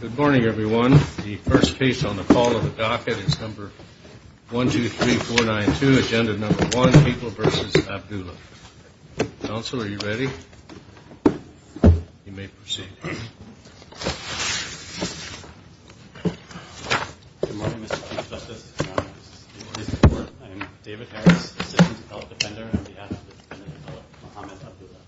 Good morning everyone. The first case on the call of the docket is number 1, 2, 3, 4, 9, 2. Agenda number 1, people v. Abdullah. Council, are you ready? You may proceed. Good morning, Mr. Chief Justice. I am David Harris, assistant to fellow defender on behalf of the defendant, fellow Muhammad Abdullah.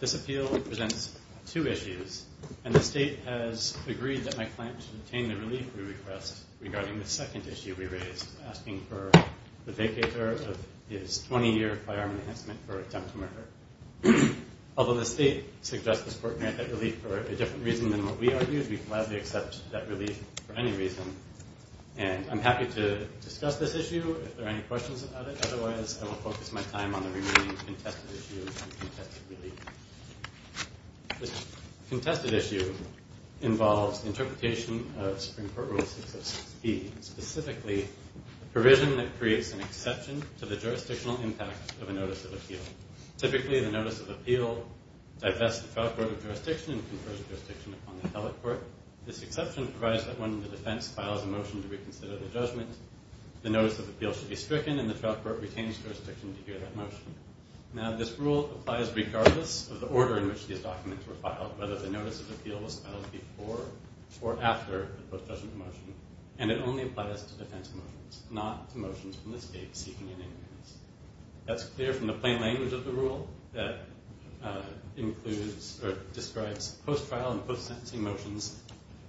This appeal presents two issues, and the state has agreed that my client should obtain the relief we request regarding the second issue we raised, asking for the vacator of his 20-year firearm enhancement for attempted murder. Although the state suggests this court grant that relief for a different reason than what we argued, we collaboratively accept that relief for any reason. And I'm happy to discuss this issue if there are any questions about it. Otherwise, I will focus my time on the remaining contested issues and contested relief. This contested issue involves interpretation of Supreme Court Rule 606B, specifically a provision that creates an exception to the jurisdictional impact of a notice of appeal. Typically, the notice of appeal divests the trial court of jurisdiction and confers jurisdiction upon the appellate court. This exception provides that when the defense files a motion to reconsider the judgment, the notice of appeal should be stricken and the trial court retains jurisdiction to hear that motion. Now, this rule applies regardless of the order in which these documents were filed, whether the notice of appeal was filed before or after the post-judgment motion. And it only applies to defense motions, not to motions from the state seeking unanimous. That's clear from the plain language of the rule that includes or describes post-trial and post-sentencing motions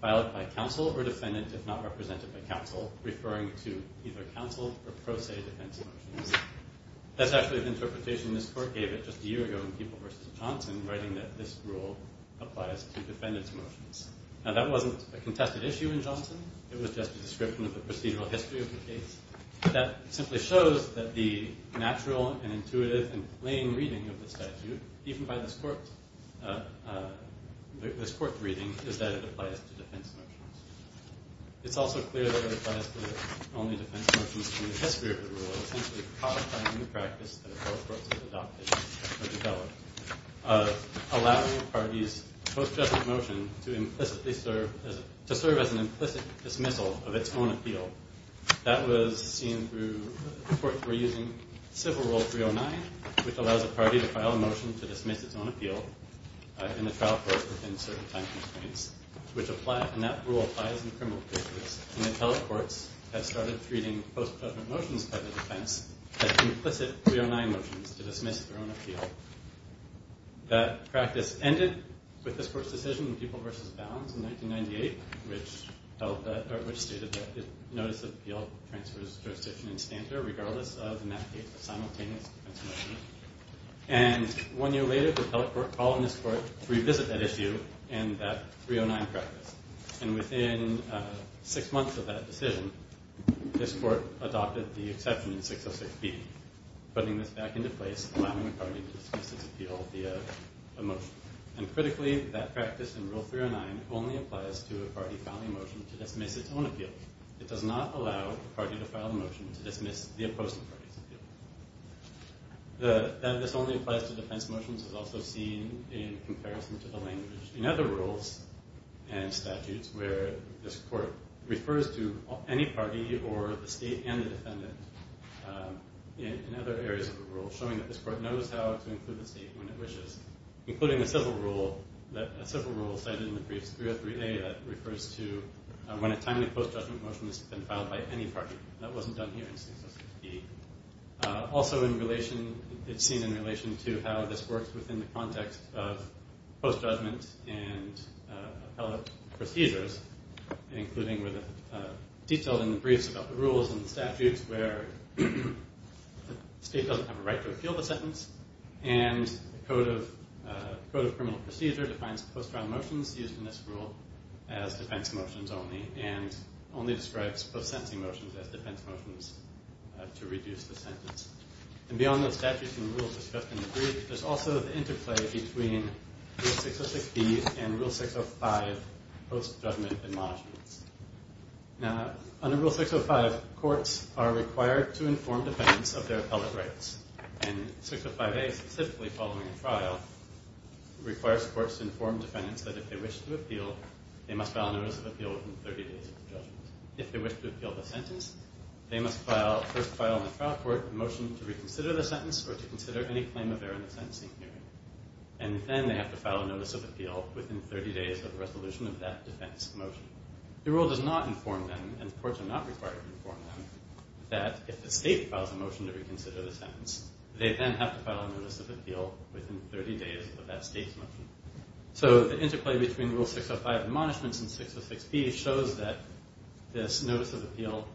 filed by counsel or defendant if not represented by counsel, referring to either counsel or pro se defense motions. That's actually an interpretation this court gave it just a year ago in People v. Johnson, writing that this rule applies to defendant's motions. Now, that wasn't a contested issue in Johnson. It was just a description of the procedural history of the case. That simply shows that the natural and intuitive and plain reading of the statute, even by this court's reading, is that it applies to defense motions. It's also clear that it applies to only defense motions from the history of the rule, so essentially codifying the practice that the telecourts have adopted or developed, allowing a party's post-judgment motion to serve as an implicit dismissal of its own appeal. That was seen through courts were using Civil Rule 309, which allows a party to file a motion to dismiss its own appeal in the trial court within certain time constraints, and that rule applies in criminal cases. And the telecourts have started treating post-judgment motions by the defense as implicit 309 motions to dismiss their own appeal. That practice ended with this court's decision in People v. Bounds in 1998, which stated that it noticed that the appeal transfers jurisdiction in standard regardless of, in that case, a simultaneous defense motion. And one year later, the telecourt called on this court to revisit that issue and that 309 practice. And within six months of that decision, this court adopted the exception in 606B, putting this back into place, allowing a party to dismiss its appeal via a motion. And critically, that practice in Rule 309 only applies to a party filing a motion to dismiss its own appeal. It does not allow a party to file a motion to dismiss the opposing party's appeal. That this only applies to defense motions is also seen in comparison to the language in other rules and statutes where this court refers to any party or the state and the defendant in other areas of the rule, showing that this court knows how to include the state when it wishes, including a civil rule cited in the briefs, 303A, that refers to when a timely post-judgment motion has been filed by any party. That wasn't done here in 606B. Also, it's seen in relation to how this works within the context of post-judgment and appellate procedures, including with a detail in the briefs about the rules and the statutes where the state doesn't have a right to appeal the sentence and the Code of Criminal Procedure defines post-trial motions used in this rule as defense motions only and only describes post-sentencing motions as defense motions to reduce the sentence. And beyond those statutes and rules discussed in the brief, there's also the interplay between Rule 606B and Rule 605 post-judgment admonishments. Now, under Rule 605, courts are required to inform defendants of their appellate rights. And 605A, specifically following a trial, requires courts to inform defendants that if they wish to appeal, they must file a notice of appeal within 30 days of the judgment. If they wish to appeal the sentence, they must first file in the trial court a motion to reconsider the sentence or to consider any claim of error in the sentencing hearing. And then they have to file a notice of appeal within 30 days of the resolution of that defense motion. The rule does not inform them, and courts are not required to inform them, that if the state files a motion to reconsider the sentence, they then have to file a notice of appeal within 30 days of that state's motion. So the interplay between Rule 605 admonishments and 606B shows that this notice of appeal,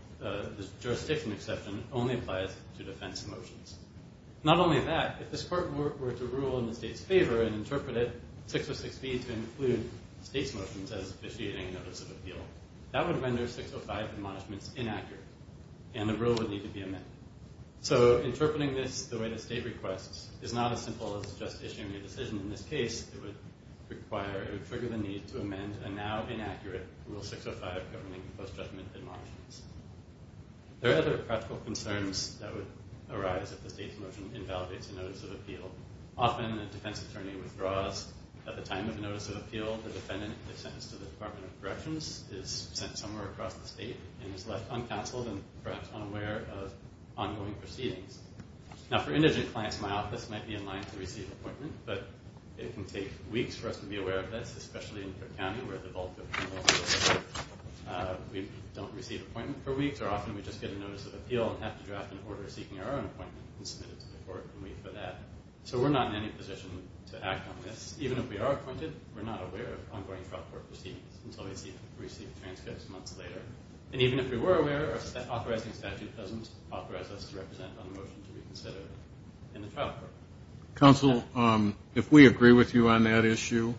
this jurisdiction exception, only applies to defense motions. Not only that, if this court were to rule in the state's favor and interpret it, 606B, to include state's motions as officiating notice of appeal, that would render 605 admonishments inaccurate, and the rule would need to be amended. So interpreting this the way the state requests is not as simple as just issuing a decision. In this case, it would require or trigger the need to amend a now inaccurate Rule 605 governing post-judgment admonishments. There are other practical concerns that would arise if the state's motion invalidates a notice of appeal. Often, a defense attorney withdraws at the time of a notice of appeal. The defendant is sentenced to the Department of Corrections, is sent somewhere across the state, and is left uncounseled and perhaps unaware of ongoing proceedings. Now, for indigent clients, my office might be in line to receive an appointment, but it can take weeks for us to be aware of this, especially in Cook County, where the bulk of criminal cases we don't receive an appointment for weeks, or often we just get a notice of appeal and have to draft an order seeking our own appointment and submit it to the court and wait for that. So we're not in any position to act on this. Even if we are appointed, we're not aware of ongoing trial court proceedings until we receive transcripts months later. And even if we were aware, our authorizing statute doesn't authorize us to represent on a motion to reconsider in the trial court. Counsel, if we agree with you on that issue,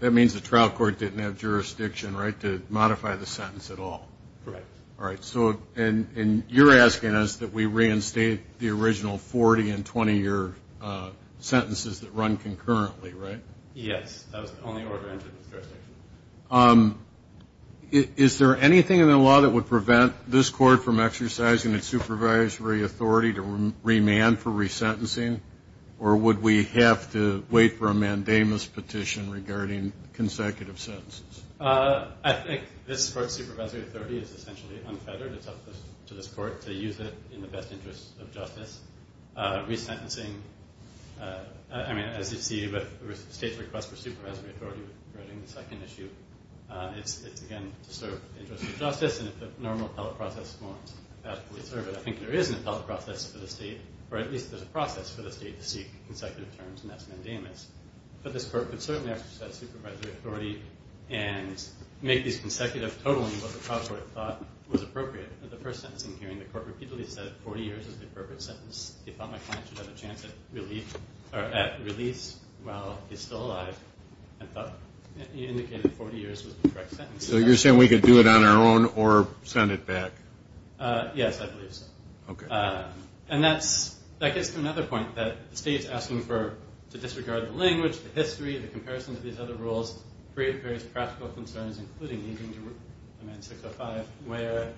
that means the trial court didn't have jurisdiction, right, to modify the sentence at all? Correct. All right. And you're asking us that we reinstate the original 40- and 20-year sentences that run concurrently, right? Yes. That was the only order entered with jurisdiction. Is there anything in the law that would prevent this court from exercising its supervisory authority to remand for resentencing, or would we have to wait for a mandamus petition regarding consecutive sentences? I think this court's supervisory authority is essentially unfettered. It's up to this court to use it in the best interest of justice. Resentencing, I mean, as you see with the state's request for supervisory authority regarding the second issue, it's, again, to serve the interest of justice. And if the normal appellate process won't adequately serve it, I think there is an appellate process for the state, or at least there's a process for the state to seek consecutive terms, and that's mandamus. But this court could certainly exercise supervisory authority and make these consecutive totaling what the trial court thought was appropriate. At the first sentencing hearing, the court repeatedly said 40 years is the appropriate sentence. They thought my client should have a chance at release while he's still alive and indicated 40 years was the correct sentence. So you're saying we could do it on our own or send it back? Yes, I believe so. Okay. And that gets to another point, that the state is asking to disregard the language, the history, the comparison to these other rules, create various practical concerns, including even to Amendment 605, where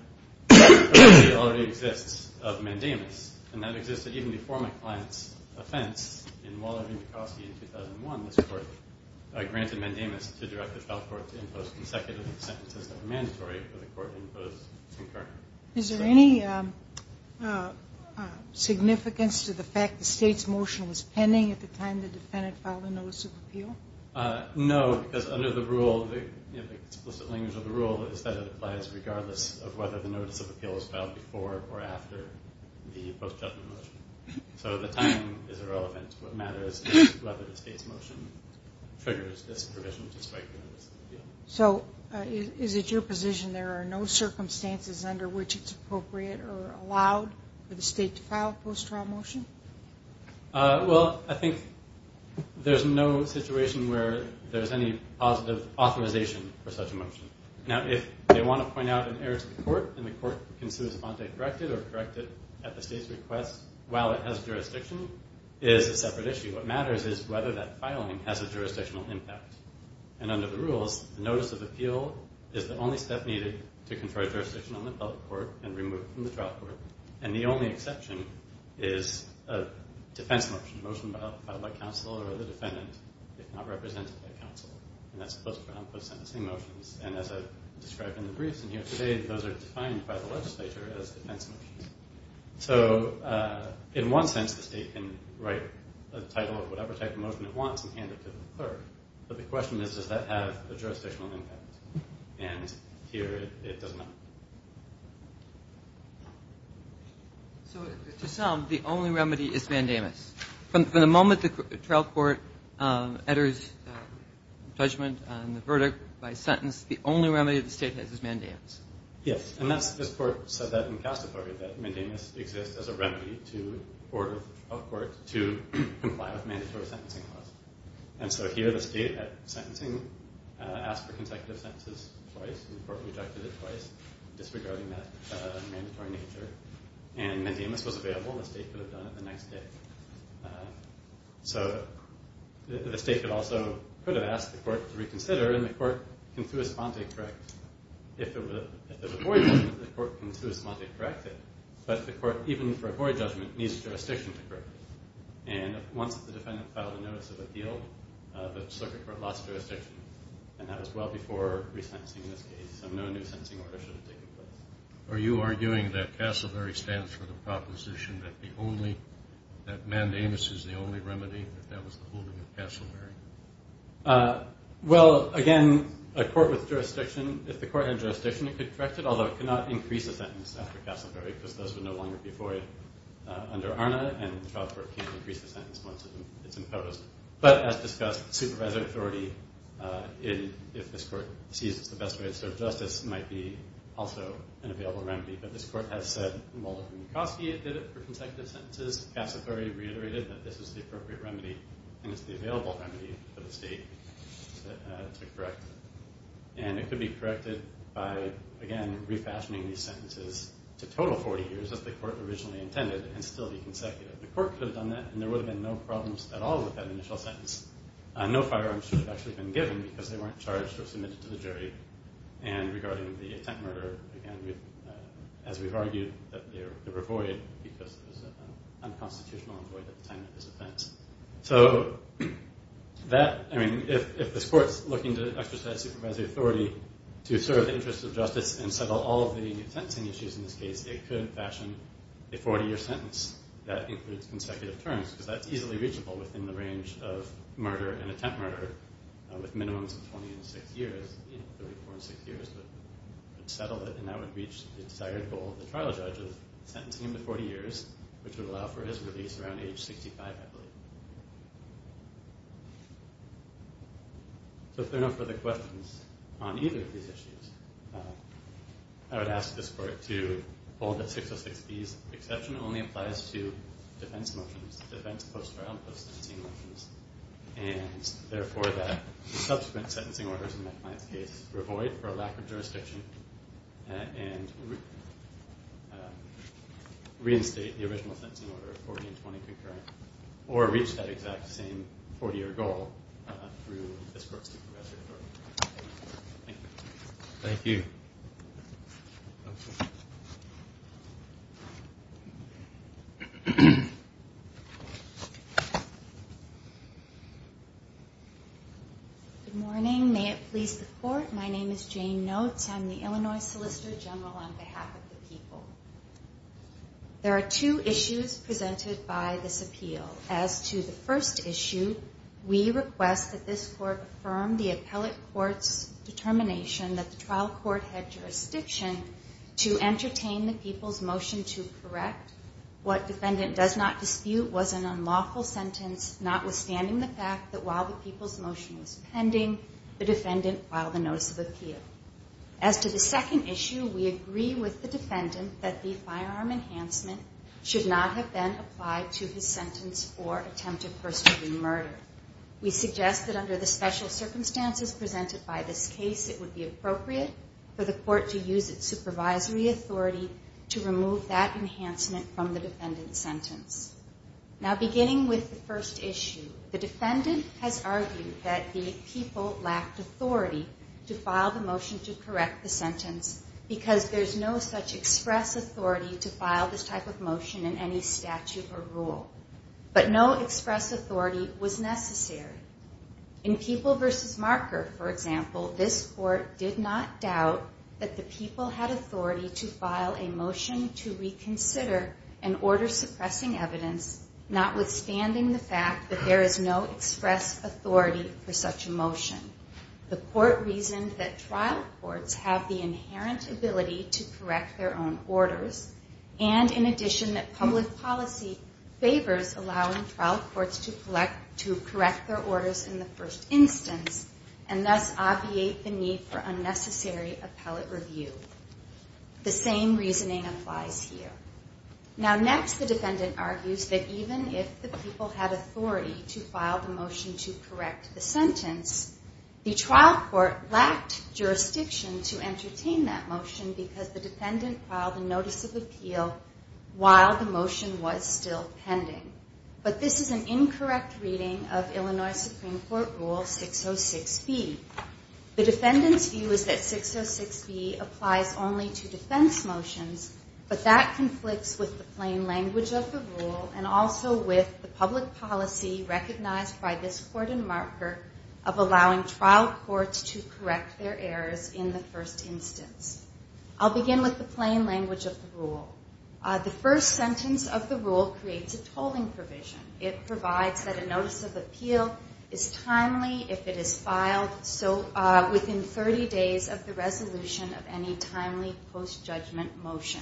the authority already exists of mandamus. And that exists even before my client's offense in Waller v. McCloskey in 2001. This court granted mandamus to direct the trial court to impose consecutive sentences that were mandatory for the court to impose concurrently. Is there any significance to the fact the state's motion was pending at the time the defendant filed the notice of appeal? No, because under the rule, the explicit language of the rule is that it applies regardless of whether the notice of appeal was filed before or after the post-judgment motion. So the timing is irrelevant. What matters is whether the state's motion triggers this provision to strike the notice of appeal. So is it your position there are no circumstances under which it's appropriate or allowed for the state to file a post-trial motion? Well, I think there's no situation where there's any positive authorization for such a motion. Now, if they want to point out an error to the court and the court considers a bond date corrected or corrected at the state's request while it has jurisdiction, it is a separate issue. What matters is whether that filing has a jurisdictional impact. And under the rules, the notice of appeal is the only step needed to confer jurisdiction on the public court and remove it from the trial court. And the only exception is a defense motion, a motion filed by counsel or the defendant if not represented by counsel. And that's a post-trial and post-sentencing motions. And as I've described in the briefs and here today, those are defined by the legislature as defense motions. So in one sense, the state can write a title of whatever type of motion it wants and hand it to the clerk. But the question is, does that have a jurisdictional impact? And here, it does not. So to some, the only remedy is mandamus. From the moment the trial court enters judgment on the verdict by sentence, the only remedy the state has is mandamus. Yes. And this court said that in the case report that mandamus exists as a remedy for a court to comply with mandatory sentencing laws. And so here, the state at sentencing asked for consecutive sentences twice, and the court rejected it twice disregarding that mandatory nature. And mandamus was available. The state could have done it the next day. So the state could also ask the court to reconsider, and the court can to a sponte correct. If there's a void judgment, the court can to a sponte correct it. But the court, even for a void judgment, needs jurisdiction to correct it. And once the defendant filed a notice of appeal, the circuit court lost jurisdiction, and that was well before resentencing in this case. So no new sentencing order should have taken place. Are you arguing that Castleberry stands for the proposition that the only ñ that mandamus is the only remedy, that that was the holding of Castleberry? Well, again, a court with jurisdiction, if the court had jurisdiction, it could correct it, although it could not increase the sentence after Castleberry because those would no longer be void under ARNA, and the trial court can't increase the sentence once it's imposed. But as discussed, supervisor authority in ñ if this court sees it's the best way to serve justice, might be also an available remedy. But this court has said Mulder v. Mikoski did it for consecutive sentences. Castleberry reiterated that this is the appropriate remedy, and it's the available remedy for the state to correct. And it could be corrected by, again, refashioning these sentences to total 40 years, as the court originally intended, and still be consecutive. The court could have done that, and there would have been no problems at all with that initial sentence. No firearms should have actually been given because they weren't charged or submitted to the jury. And regarding the attempt murder, again, as we've argued, they were void because it was an unconstitutional avoid at the time of this offense. So that ñ I mean, if this court's looking to exercise supervisory authority to serve the interests of justice and settle all of the sentencing issues in this case, it could fashion a 40-year sentence that includes consecutive terms because that's easily reachable within the range of murder and attempt murder with minimums of 20 and 6 years, 34 and 6 years, but settle it, and that would reach the desired goal of the trial judge of sentencing him to 40 years, which would allow for his release around age 65, I believe. So if there are no further questions on either of these issues, I would ask this court to hold that 606B's exception only applies to defense motions, defense post-trial and post-sentencing motions, and therefore that the subsequent sentencing orders in my client's case were void for a lack of jurisdiction and reinstate the original sentencing order of 40 and 20 concurrent or reach that exact same 40-year goal through this court's supervisory authority. Thank you. Thank you. Good morning. May it please the court. My name is Jane Notes. I'm the Illinois Solicitor General on behalf of the people. There are two issues presented by this appeal. As to the first issue, we request that this court affirm the appellate court's determination that the trial court had jurisdiction in this case. to entertain the people's motion to correct what defendant does not dispute was an unlawful sentence, notwithstanding the fact that while the people's motion was pending, the defendant filed a notice of appeal. As to the second issue, we agree with the defendant that the firearm enhancement should not have been applied to his sentence or attempted first-degree murder. We suggest that under the special circumstances presented by this case, it would be appropriate for the court to use its supervisory authority to remove that enhancement from the defendant's sentence. Now, beginning with the first issue, the defendant has argued that the people lacked authority to file the motion to correct the sentence because there's no such express authority to file this type of motion in any statute or rule. But no express authority was necessary. In People v. Marker, for example, this court did not doubt that the people had authority to file a motion to reconsider an order suppressing evidence, notwithstanding the fact that there is no express authority for such a motion. The court reasoned that trial courts have the inherent ability to correct their own orders, and in addition that public policy favors allowing trial courts to correct their orders in the first instance and thus obviate the need for unnecessary appellate review. The same reasoning applies here. Now, next, the defendant argues that even if the people had authority to file the motion to correct the sentence, the trial court lacked jurisdiction to entertain that motion because the defendant filed a notice of appeal while the motion was still pending. But this is an incorrect reading of Illinois Supreme Court Rule 606B. The defendant's view is that 606B applies only to defense motions, but that conflicts with the plain language of the rule and also with the public policy recognized by this court in Marker of allowing trial courts to correct their errors in the first instance. I'll begin with the plain language of the rule. The first sentence of the rule creates a tolling provision. It provides that a notice of appeal is timely if it is filed within 30 days of the resolution of any timely post-judgment motion.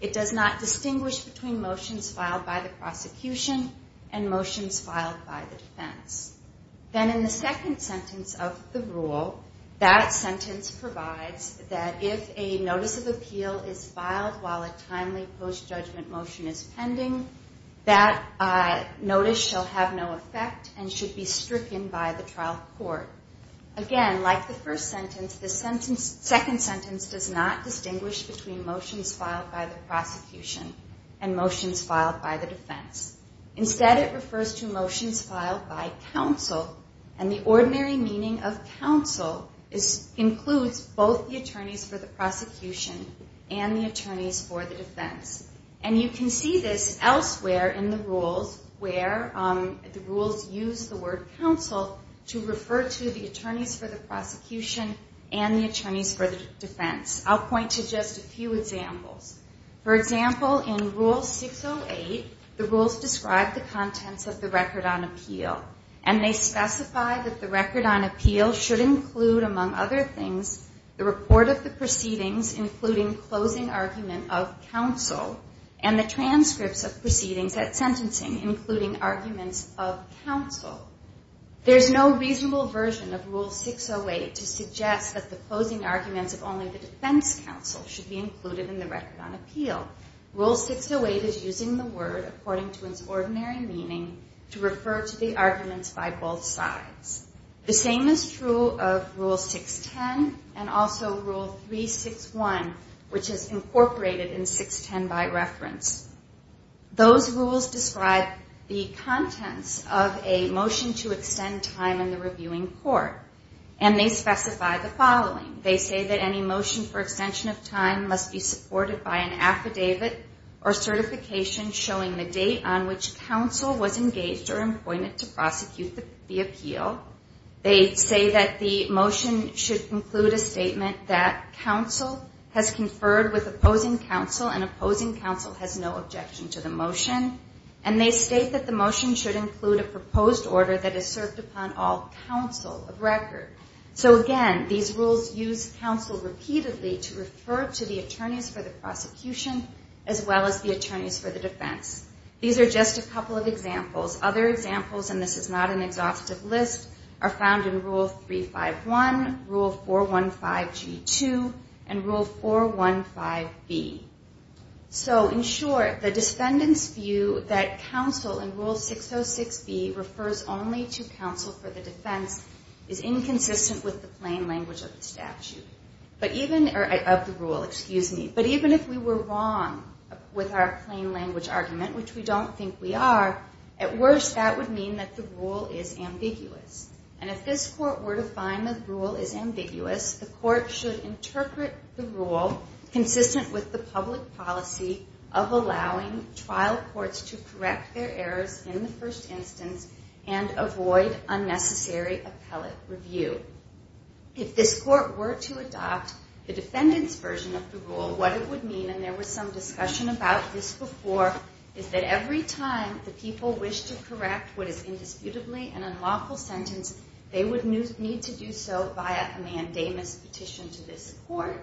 It does not distinguish between motions filed by the prosecution and motions filed by the defense. Then in the second sentence of the rule, that sentence provides that if a notice of appeal is filed while a timely post-judgment motion is pending, that notice shall have no effect and should be stricken by the trial court. Again, like the first sentence, the second sentence does not distinguish between motions filed by the prosecution and motions filed by the defense. Instead, it refers to motions filed by counsel, and the ordinary meaning of counsel includes both the attorneys for the prosecution and the attorneys for the defense. And you can see this elsewhere in the rules, where the rules use the word counsel to refer to the attorneys for the prosecution and the attorneys for the defense. I'll point to just a few examples. For example, in Rule 608, the rules describe the contents of the Record on Appeal, and they specify that the Record on Appeal should include, among other things, the report of the proceedings, including closing argument of counsel, and the transcripts of proceedings at sentencing, including arguments of counsel. There's no reasonable version of Rule 608 to suggest that the closing arguments of only the defense counsel should be included in the Record on Appeal. Rule 608 is using the word, according to its ordinary meaning, to refer to the arguments by both sides. The same is true of Rule 610 and also Rule 361, which is incorporated in 610 by reference. Those rules describe the contents of a motion to extend time in the reviewing court, and they specify the following. They say that any motion for extension of time must be supported by an affidavit or certification showing the date on which counsel was engaged or appointed to prosecute the appeal. They say that the motion should include a statement that counsel has conferred with opposing counsel, and opposing counsel has no objection to the motion. And they state that the motion should include a proposed order that is served upon all counsel of Record. So, again, these rules use counsel repeatedly to refer to the attorneys for the prosecution as well as the attorneys for the defense. These are just a couple of examples. Other examples, and this is not an exhaustive list, are found in Rule 351, Rule 415G2, and Rule 415B. So, in short, the defendants view that counsel in Rule 606B refers only to counsel for the defense is inconsistent with the plain language of the rule. But even if we were wrong with our plain language argument, which we don't think we are, at worst that would mean that the rule is ambiguous. And if this court were to find the rule is ambiguous, the court should interpret the rule consistent with the public policy of allowing trial courts to correct their errors in the first instance and avoid unnecessary appellate review. If this court were to adopt the defendant's version of the rule, what it would mean, and there was some discussion about this before, is that every time the people wish to correct what is indisputably an unlawful sentence, they would need to do so via a mandamus petition to this court,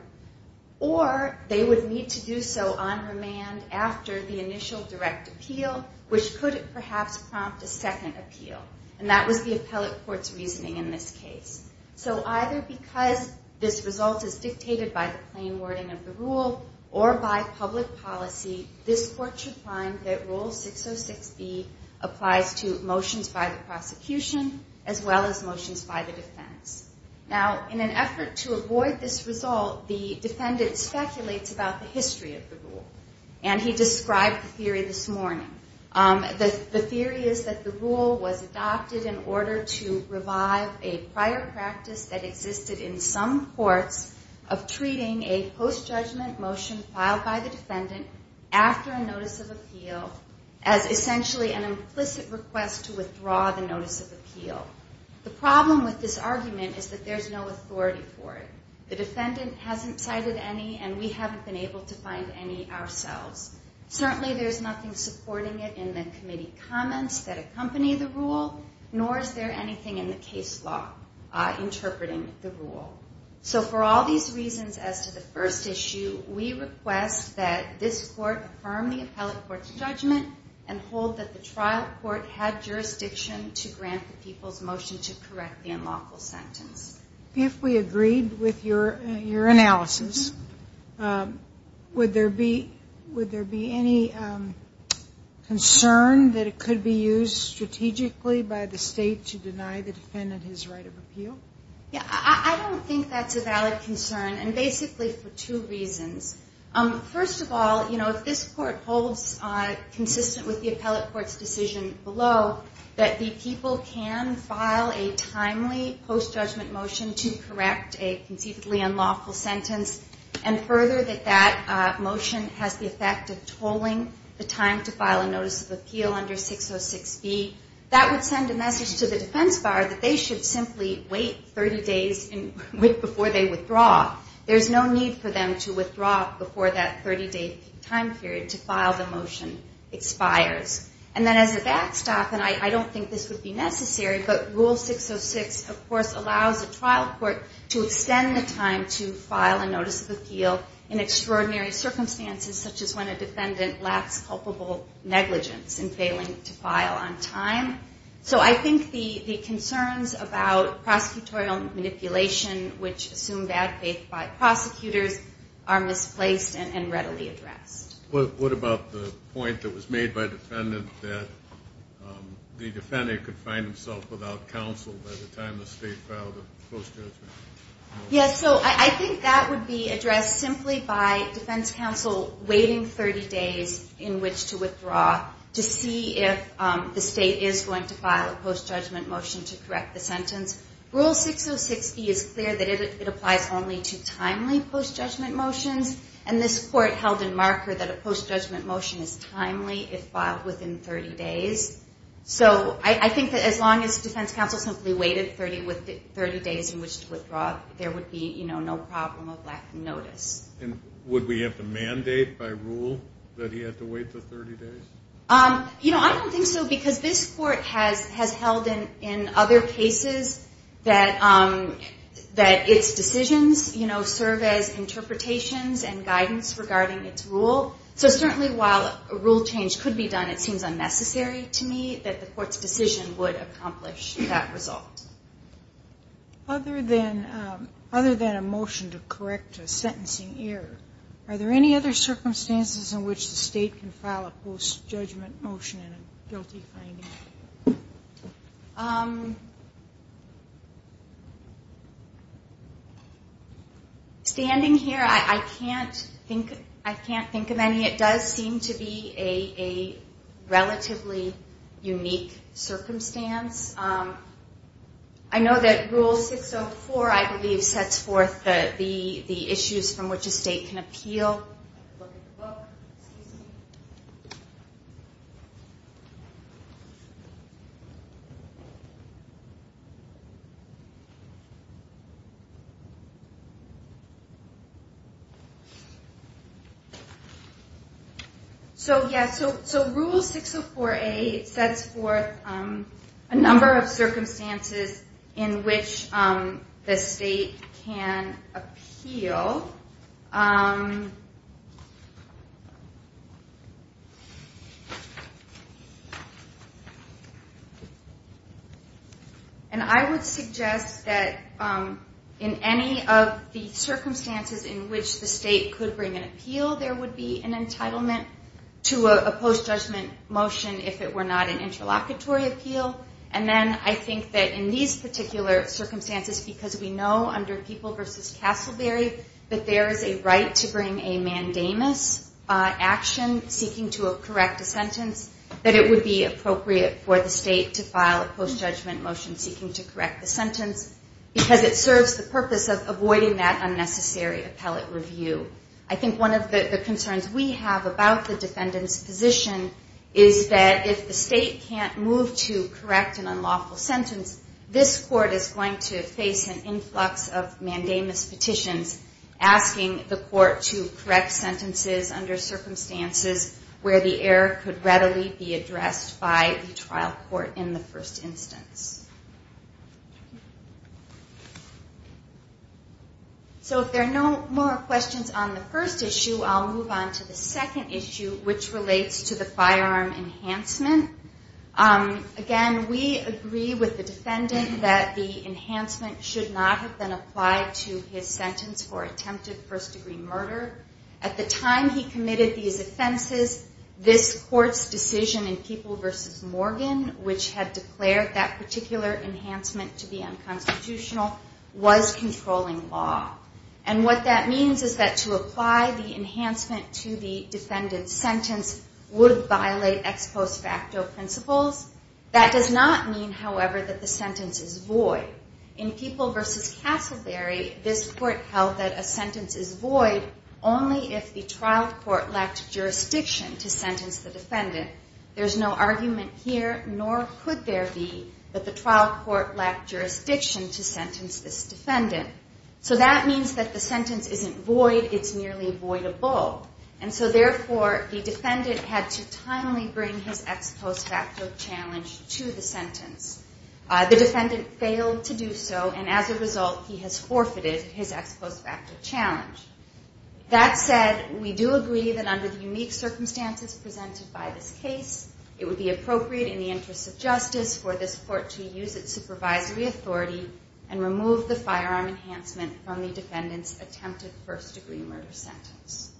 or they would need to do so on remand after the initial direct appeal, which could perhaps prompt a second appeal. And that was the appellate court's reasoning in this case. So either because this result is dictated by the plain wording of the rule or by public policy, this court should find that Rule 606B applies to motions by the prosecution as well as motions by the defense. Now, in an effort to avoid this result, the defendant speculates about the history of the rule. And he described the theory this morning. The theory is that the rule was adopted in order to revive a prior practice that existed in some courts of treating a post-judgment motion filed by the defendant after a notice of appeal as essentially an implicit request to withdraw the notice of appeal. The problem with this argument is that there's no authority for it. The defendant hasn't cited any, and we haven't been able to find any ourselves. Certainly there's nothing supporting it in the committee comments that accompany the rule, nor is there anything in the case law interpreting the rule. So for all these reasons as to the first issue, we request that this court affirm the appellate court's judgment and hold that the trial court had jurisdiction to grant the people's motion to correct the unlawful sentence. If we agreed with your analysis, would there be any concern that it could be used strategically by the state to deny the defendant his right of appeal? I don't think that's a valid concern, and basically for two reasons. First of all, if this court holds consistent with the appellate court's decision below that the people can file a timely post-judgment motion to correct a conceivably unlawful sentence and further that that motion has the effect of tolling the time to file a notice of appeal under 606B, that would send a message to the defense bar that they should simply wait 30 days before they withdraw. There's no need for them to withdraw before that 30-day time period to file the motion expires. And then as a backstop, and I don't think this would be necessary, but Rule 606 of course allows a trial court to extend the time to file a notice of appeal in extraordinary circumstances such as when a defendant lacks culpable negligence in failing to file on time. So I think the concerns about prosecutorial manipulation, which assume bad faith by prosecutors, are misplaced and readily addressed. What about the point that was made by the defendant that the defendant could find himself without counsel by the time the state filed a post-judgment motion? Yes, so I think that would be addressed simply by defense counsel waiting 30 days in which to withdraw to see if the state is going to file a post-judgment motion to correct the sentence. Rule 606B is clear that it applies only to timely post-judgment motions, and this court held in marker that a post-judgment motion is timely if filed within 30 days. So I think that as long as defense counsel simply waited 30 days in which to withdraw, there would be no problem of lack of notice. And would we have to mandate by rule that he had to wait the 30 days? I don't think so because this court has held in other cases that its decisions serve as interpretations and guidance regarding its rule. So certainly while a rule change could be done, it seems unnecessary to me that the court's decision would accomplish that result. Other than a motion to correct a sentencing error, are there any other circumstances in which the state can file a post-judgment motion in a guilty finding? Standing here, I can't think of any. It does seem to be a relatively unique circumstance. I know that Rule 604, I believe, sets forth the issues from which a state can appeal. I have to look at the book. So yes, Rule 604A sets forth a number of circumstances in which the state can appeal. And I would suggest that in any of the circumstances in which the state could bring an appeal, there would be an entitlement to a post-judgment motion if it were not an interlocutory appeal. And then I think that in these particular circumstances, because we know under People v. Castleberry that there is a right to bring a mandamus action seeking to correct a sentence, that it would be appropriate for the state to file a post-judgment motion seeking to correct the sentence because it serves the purpose of avoiding that unnecessary appellate review. I think one of the concerns we have about the defendant's position is that if the state can't move to correct an unlawful sentence, this court is going to face an influx of mandamus petitions asking the court to correct sentences under circumstances where the error could readily be addressed by the trial court in the first instance. So if there are no more questions on the first issue, I'll move on to the second issue, which relates to the firearm enhancement. Again, we agree with the defendant that the enhancement should not have been applied to his sentence for attempted first-degree murder. At the time he committed these offenses, this court's decision in People v. Morgan, which had declared that particular enhancement to be unconstitutional, was controlling law. And what that means is that to apply the enhancement to the defendant's sentence would violate ex post facto principles. That does not mean, however, that the sentence is void. In People v. Castleberry, this court held that a sentence is void only if the trial court lacked jurisdiction to sentence the defendant. There's no argument here, nor could there be, that the trial court lacked jurisdiction to sentence this defendant. So that means that the sentence isn't void, it's merely voidable. And so therefore, the defendant had to timely bring his ex post facto challenge to the sentence. The defendant failed to do so, and as a result, he has forfeited his ex post facto challenge. That said, we do agree that under the unique circumstances presented by this case, it would be appropriate in the interest of justice for this court to use its supervisory authority and remove the firearm enhancement from the defendant's attempted first degree murder sentence.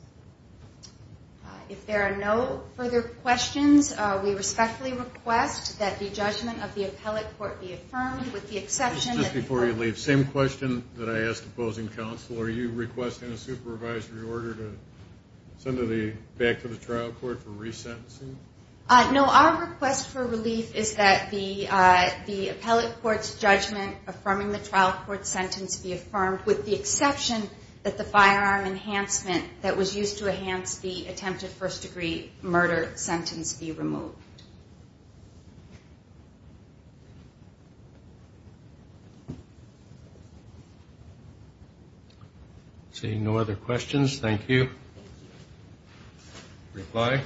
If there are no further questions, we respectfully request that the judgment of the appellate court be affirmed, with the exception that the court Just before you leave, same question that I asked opposing counsel. Are you requesting a supervisory order to send her back to the trial court for resentencing? No, our request for relief is that the appellate court's judgment affirming the trial court's sentence be affirmed, with the exception that the firearm enhancement that was used to enhance the attempted first degree murder sentence be removed. Seeing no other questions, thank you. Reply.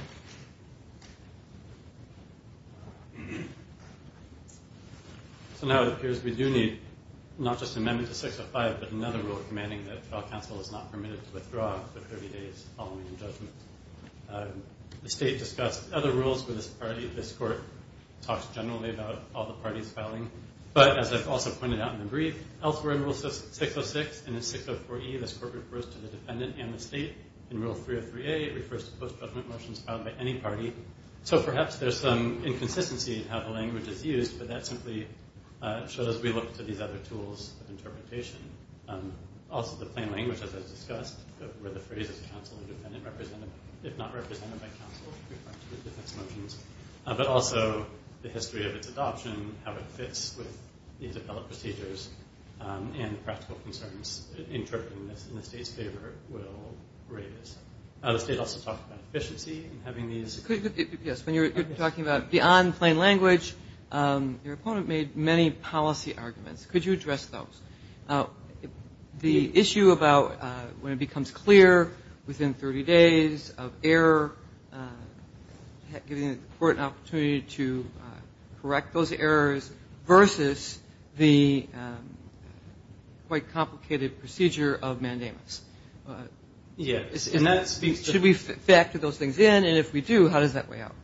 So now it appears we do need not just amendment to 605, but another rule commanding that trial counsel is not permitted to withdraw for 30 days following the judgment. The state discussed other rules with this party. This court talks generally about all the parties filing, but as I've also pointed out in the brief, elsewhere in rule 606 and in 604E, this court refers to the defendant and the state. In rule 303A, it refers to post-judgment motions filed by any party. So perhaps there's some inconsistency in how the language is used, but that simply shows we look to these other tools of interpretation. Also the plain language, as I've discussed, where the phrase is counsel and defendant represented, if not represented by counsel, referring to the defendant's motions. But also the history of its adoption, how it fits with the appellate procedures, and the practical concerns interpreting this in the state's favor will raise. The state also talked about efficiency in having these. Yes, when you're talking about beyond plain language, your opponent made many policy arguments. Could you address those? The issue about when it becomes clear within 30 days of error, giving the court an opportunity to correct those errors versus the quite complicated procedure of mandamus. Yes. Should we factor those things in? And if we do, how does that play out?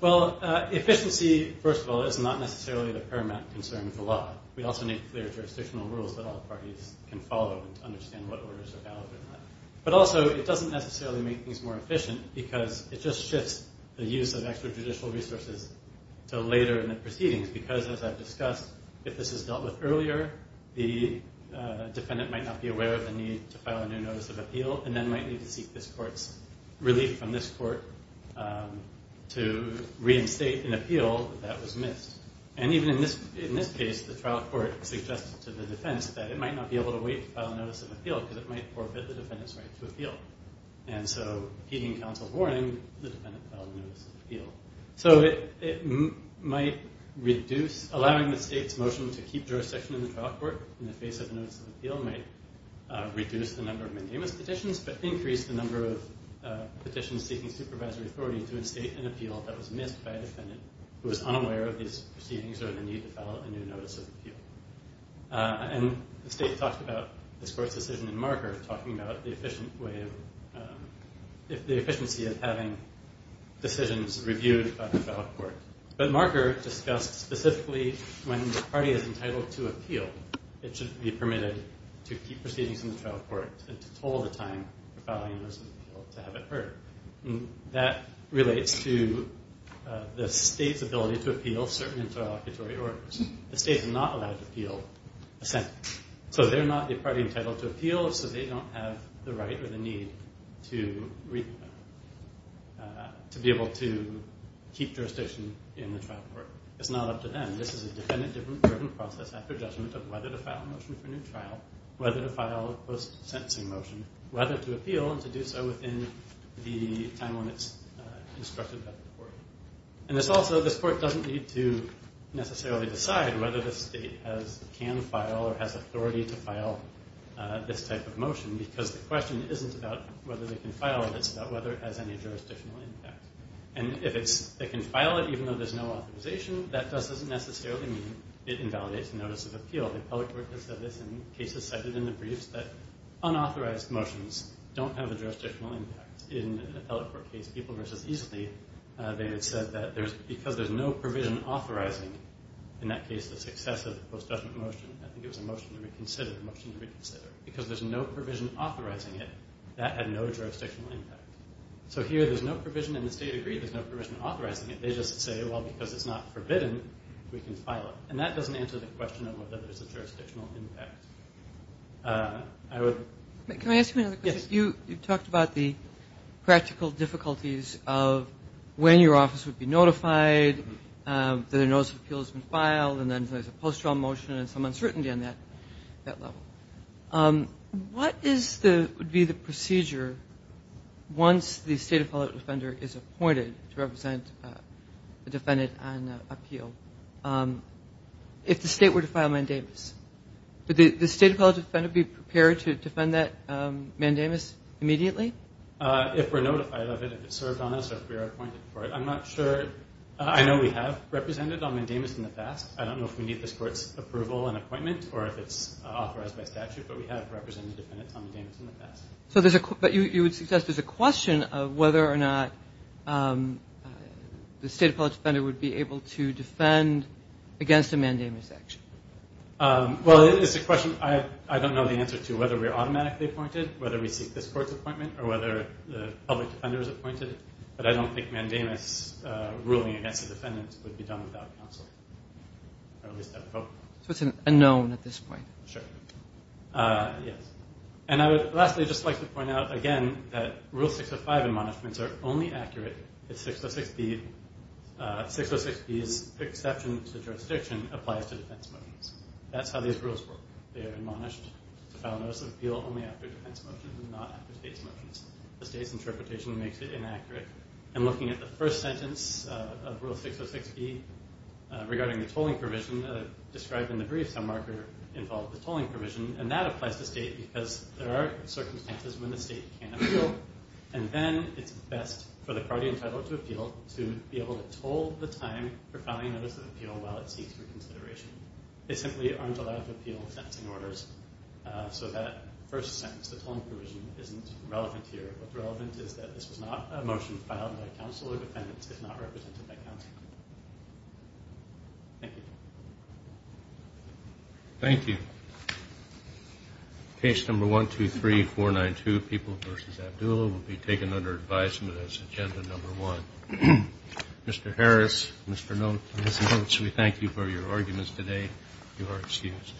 Well, efficiency, first of all, is not necessarily the paramount concern of the law. We also need clear jurisdictional rules that all parties can follow to understand what orders are valid or not. But also it doesn't necessarily make things more efficient because it just shifts the use of extrajudicial resources to later in the proceedings. Because, as I've discussed, if this is dealt with earlier, the defendant might not be aware of the need to file a new notice of appeal and then might need to seek this court's relief from this court to reinstate an appeal that was missed. And even in this case, the trial court suggested to the defense that it might not be able to wait to file a notice of appeal because it might forfeit the defendant's right to appeal. And so heeding counsel's warning, the defendant filed a notice of appeal. So it might reduce, allowing the state's motion to keep jurisdiction in the trial court in the face of a notice of appeal might reduce the number of mandamus petitions but increase the number of petitions seeking supervisory authority to reinstate an appeal that was missed by a defendant who was unaware of these proceedings or the need to file a new notice of appeal. And the state talked about this court's decision in marker, talking about the efficiency of having decisions reviewed by the trial court. But marker discussed specifically when the party is entitled to appeal, it should be permitted to keep proceedings in the trial court and to hold the time for filing a notice of appeal to have it heard. That relates to the state's ability to appeal certain interlocutory orders. The state is not allowed to appeal assent. So they're not the party entitled to appeal, so they don't have the right or the need to be able to keep jurisdiction in the trial court. It's not up to them. This is a defendant-driven process after judgment of whether to file a motion for a new trial, whether to file a post-sentencing motion, whether to appeal and to do so within the time limits instructed by the court. And this also, this court doesn't need to necessarily decide whether the state can file or has authority to file this type of motion because the question isn't about whether they can file it. It's about whether it has any jurisdictional impact. And if they can file it even though there's no authorization, that doesn't necessarily mean it invalidates the notice of appeal. The appellate court has said this in cases cited in the briefs that unauthorized motions don't have a jurisdictional impact. In an appellate court case, People v. Easley, they had said that because there's no provision authorizing, in that case the success of the post-judgment motion, I think it was a motion to reconsider, a motion to reconsider, because there's no provision authorizing it, that had no jurisdictional impact. So here there's no provision and the state agreed there's no provision authorizing it. They just say, well, because it's not forbidden, we can file it. And that doesn't answer the question of whether there's a jurisdictional impact. Can I ask you another question? Yes. You talked about the practical difficulties of when your office would be notified, that a notice of appeal has been filed, and then there's a post-trial motion and some uncertainty on that level. What would be the procedure once the state appellate defender is appointed to represent a defendant on appeal? If the state were to file mandamus, would the state appellate defender be prepared to defend that mandamus immediately? If we're notified of it, if it's served on us, or if we're appointed for it. I'm not sure. I know we have represented on mandamus in the past. I don't know if we need this court's approval and appointment or if it's authorized by statute, but we have represented defendants on mandamus in the past. But you would suggest there's a question of whether or not the state appellate defender would be able to defend against a mandamus action. Well, it's a question I don't know the answer to, whether we're automatically appointed, whether we seek this court's appointment, or whether the public defender is appointed. But I don't think mandamus ruling against a defendant would be done without counsel, or at least I hope not. So it's a known at this point. Sure. Yes. And I would lastly just like to point out, again, that Rule 605 admonishments are only accurate if 606B's exception to jurisdiction applies to defense motions. That's how these rules work. They are admonished to file a notice of appeal only after defense motions, not after state's motions. The state's interpretation makes it inaccurate. And looking at the first sentence of Rule 606B regarding the tolling provision, described in the brief, some marker involved the tolling provision, and that applies to state because there are circumstances when the state can appeal. And then it's best for the party entitled to appeal to be able to toll the time for filing a notice of appeal while it seeks reconsideration. They simply aren't allowed to appeal sentencing orders. So that first sentence, the tolling provision, isn't relevant here. What's relevant is that this was not a motion filed by counsel or defendants. It's not represented by counsel. Thank you. Thank you. Case number 123492, People v. Abdulla, will be taken under advisement as agenda number one. Mr. Harris, Mr. Knowles, we thank you for your arguments today. You are excused.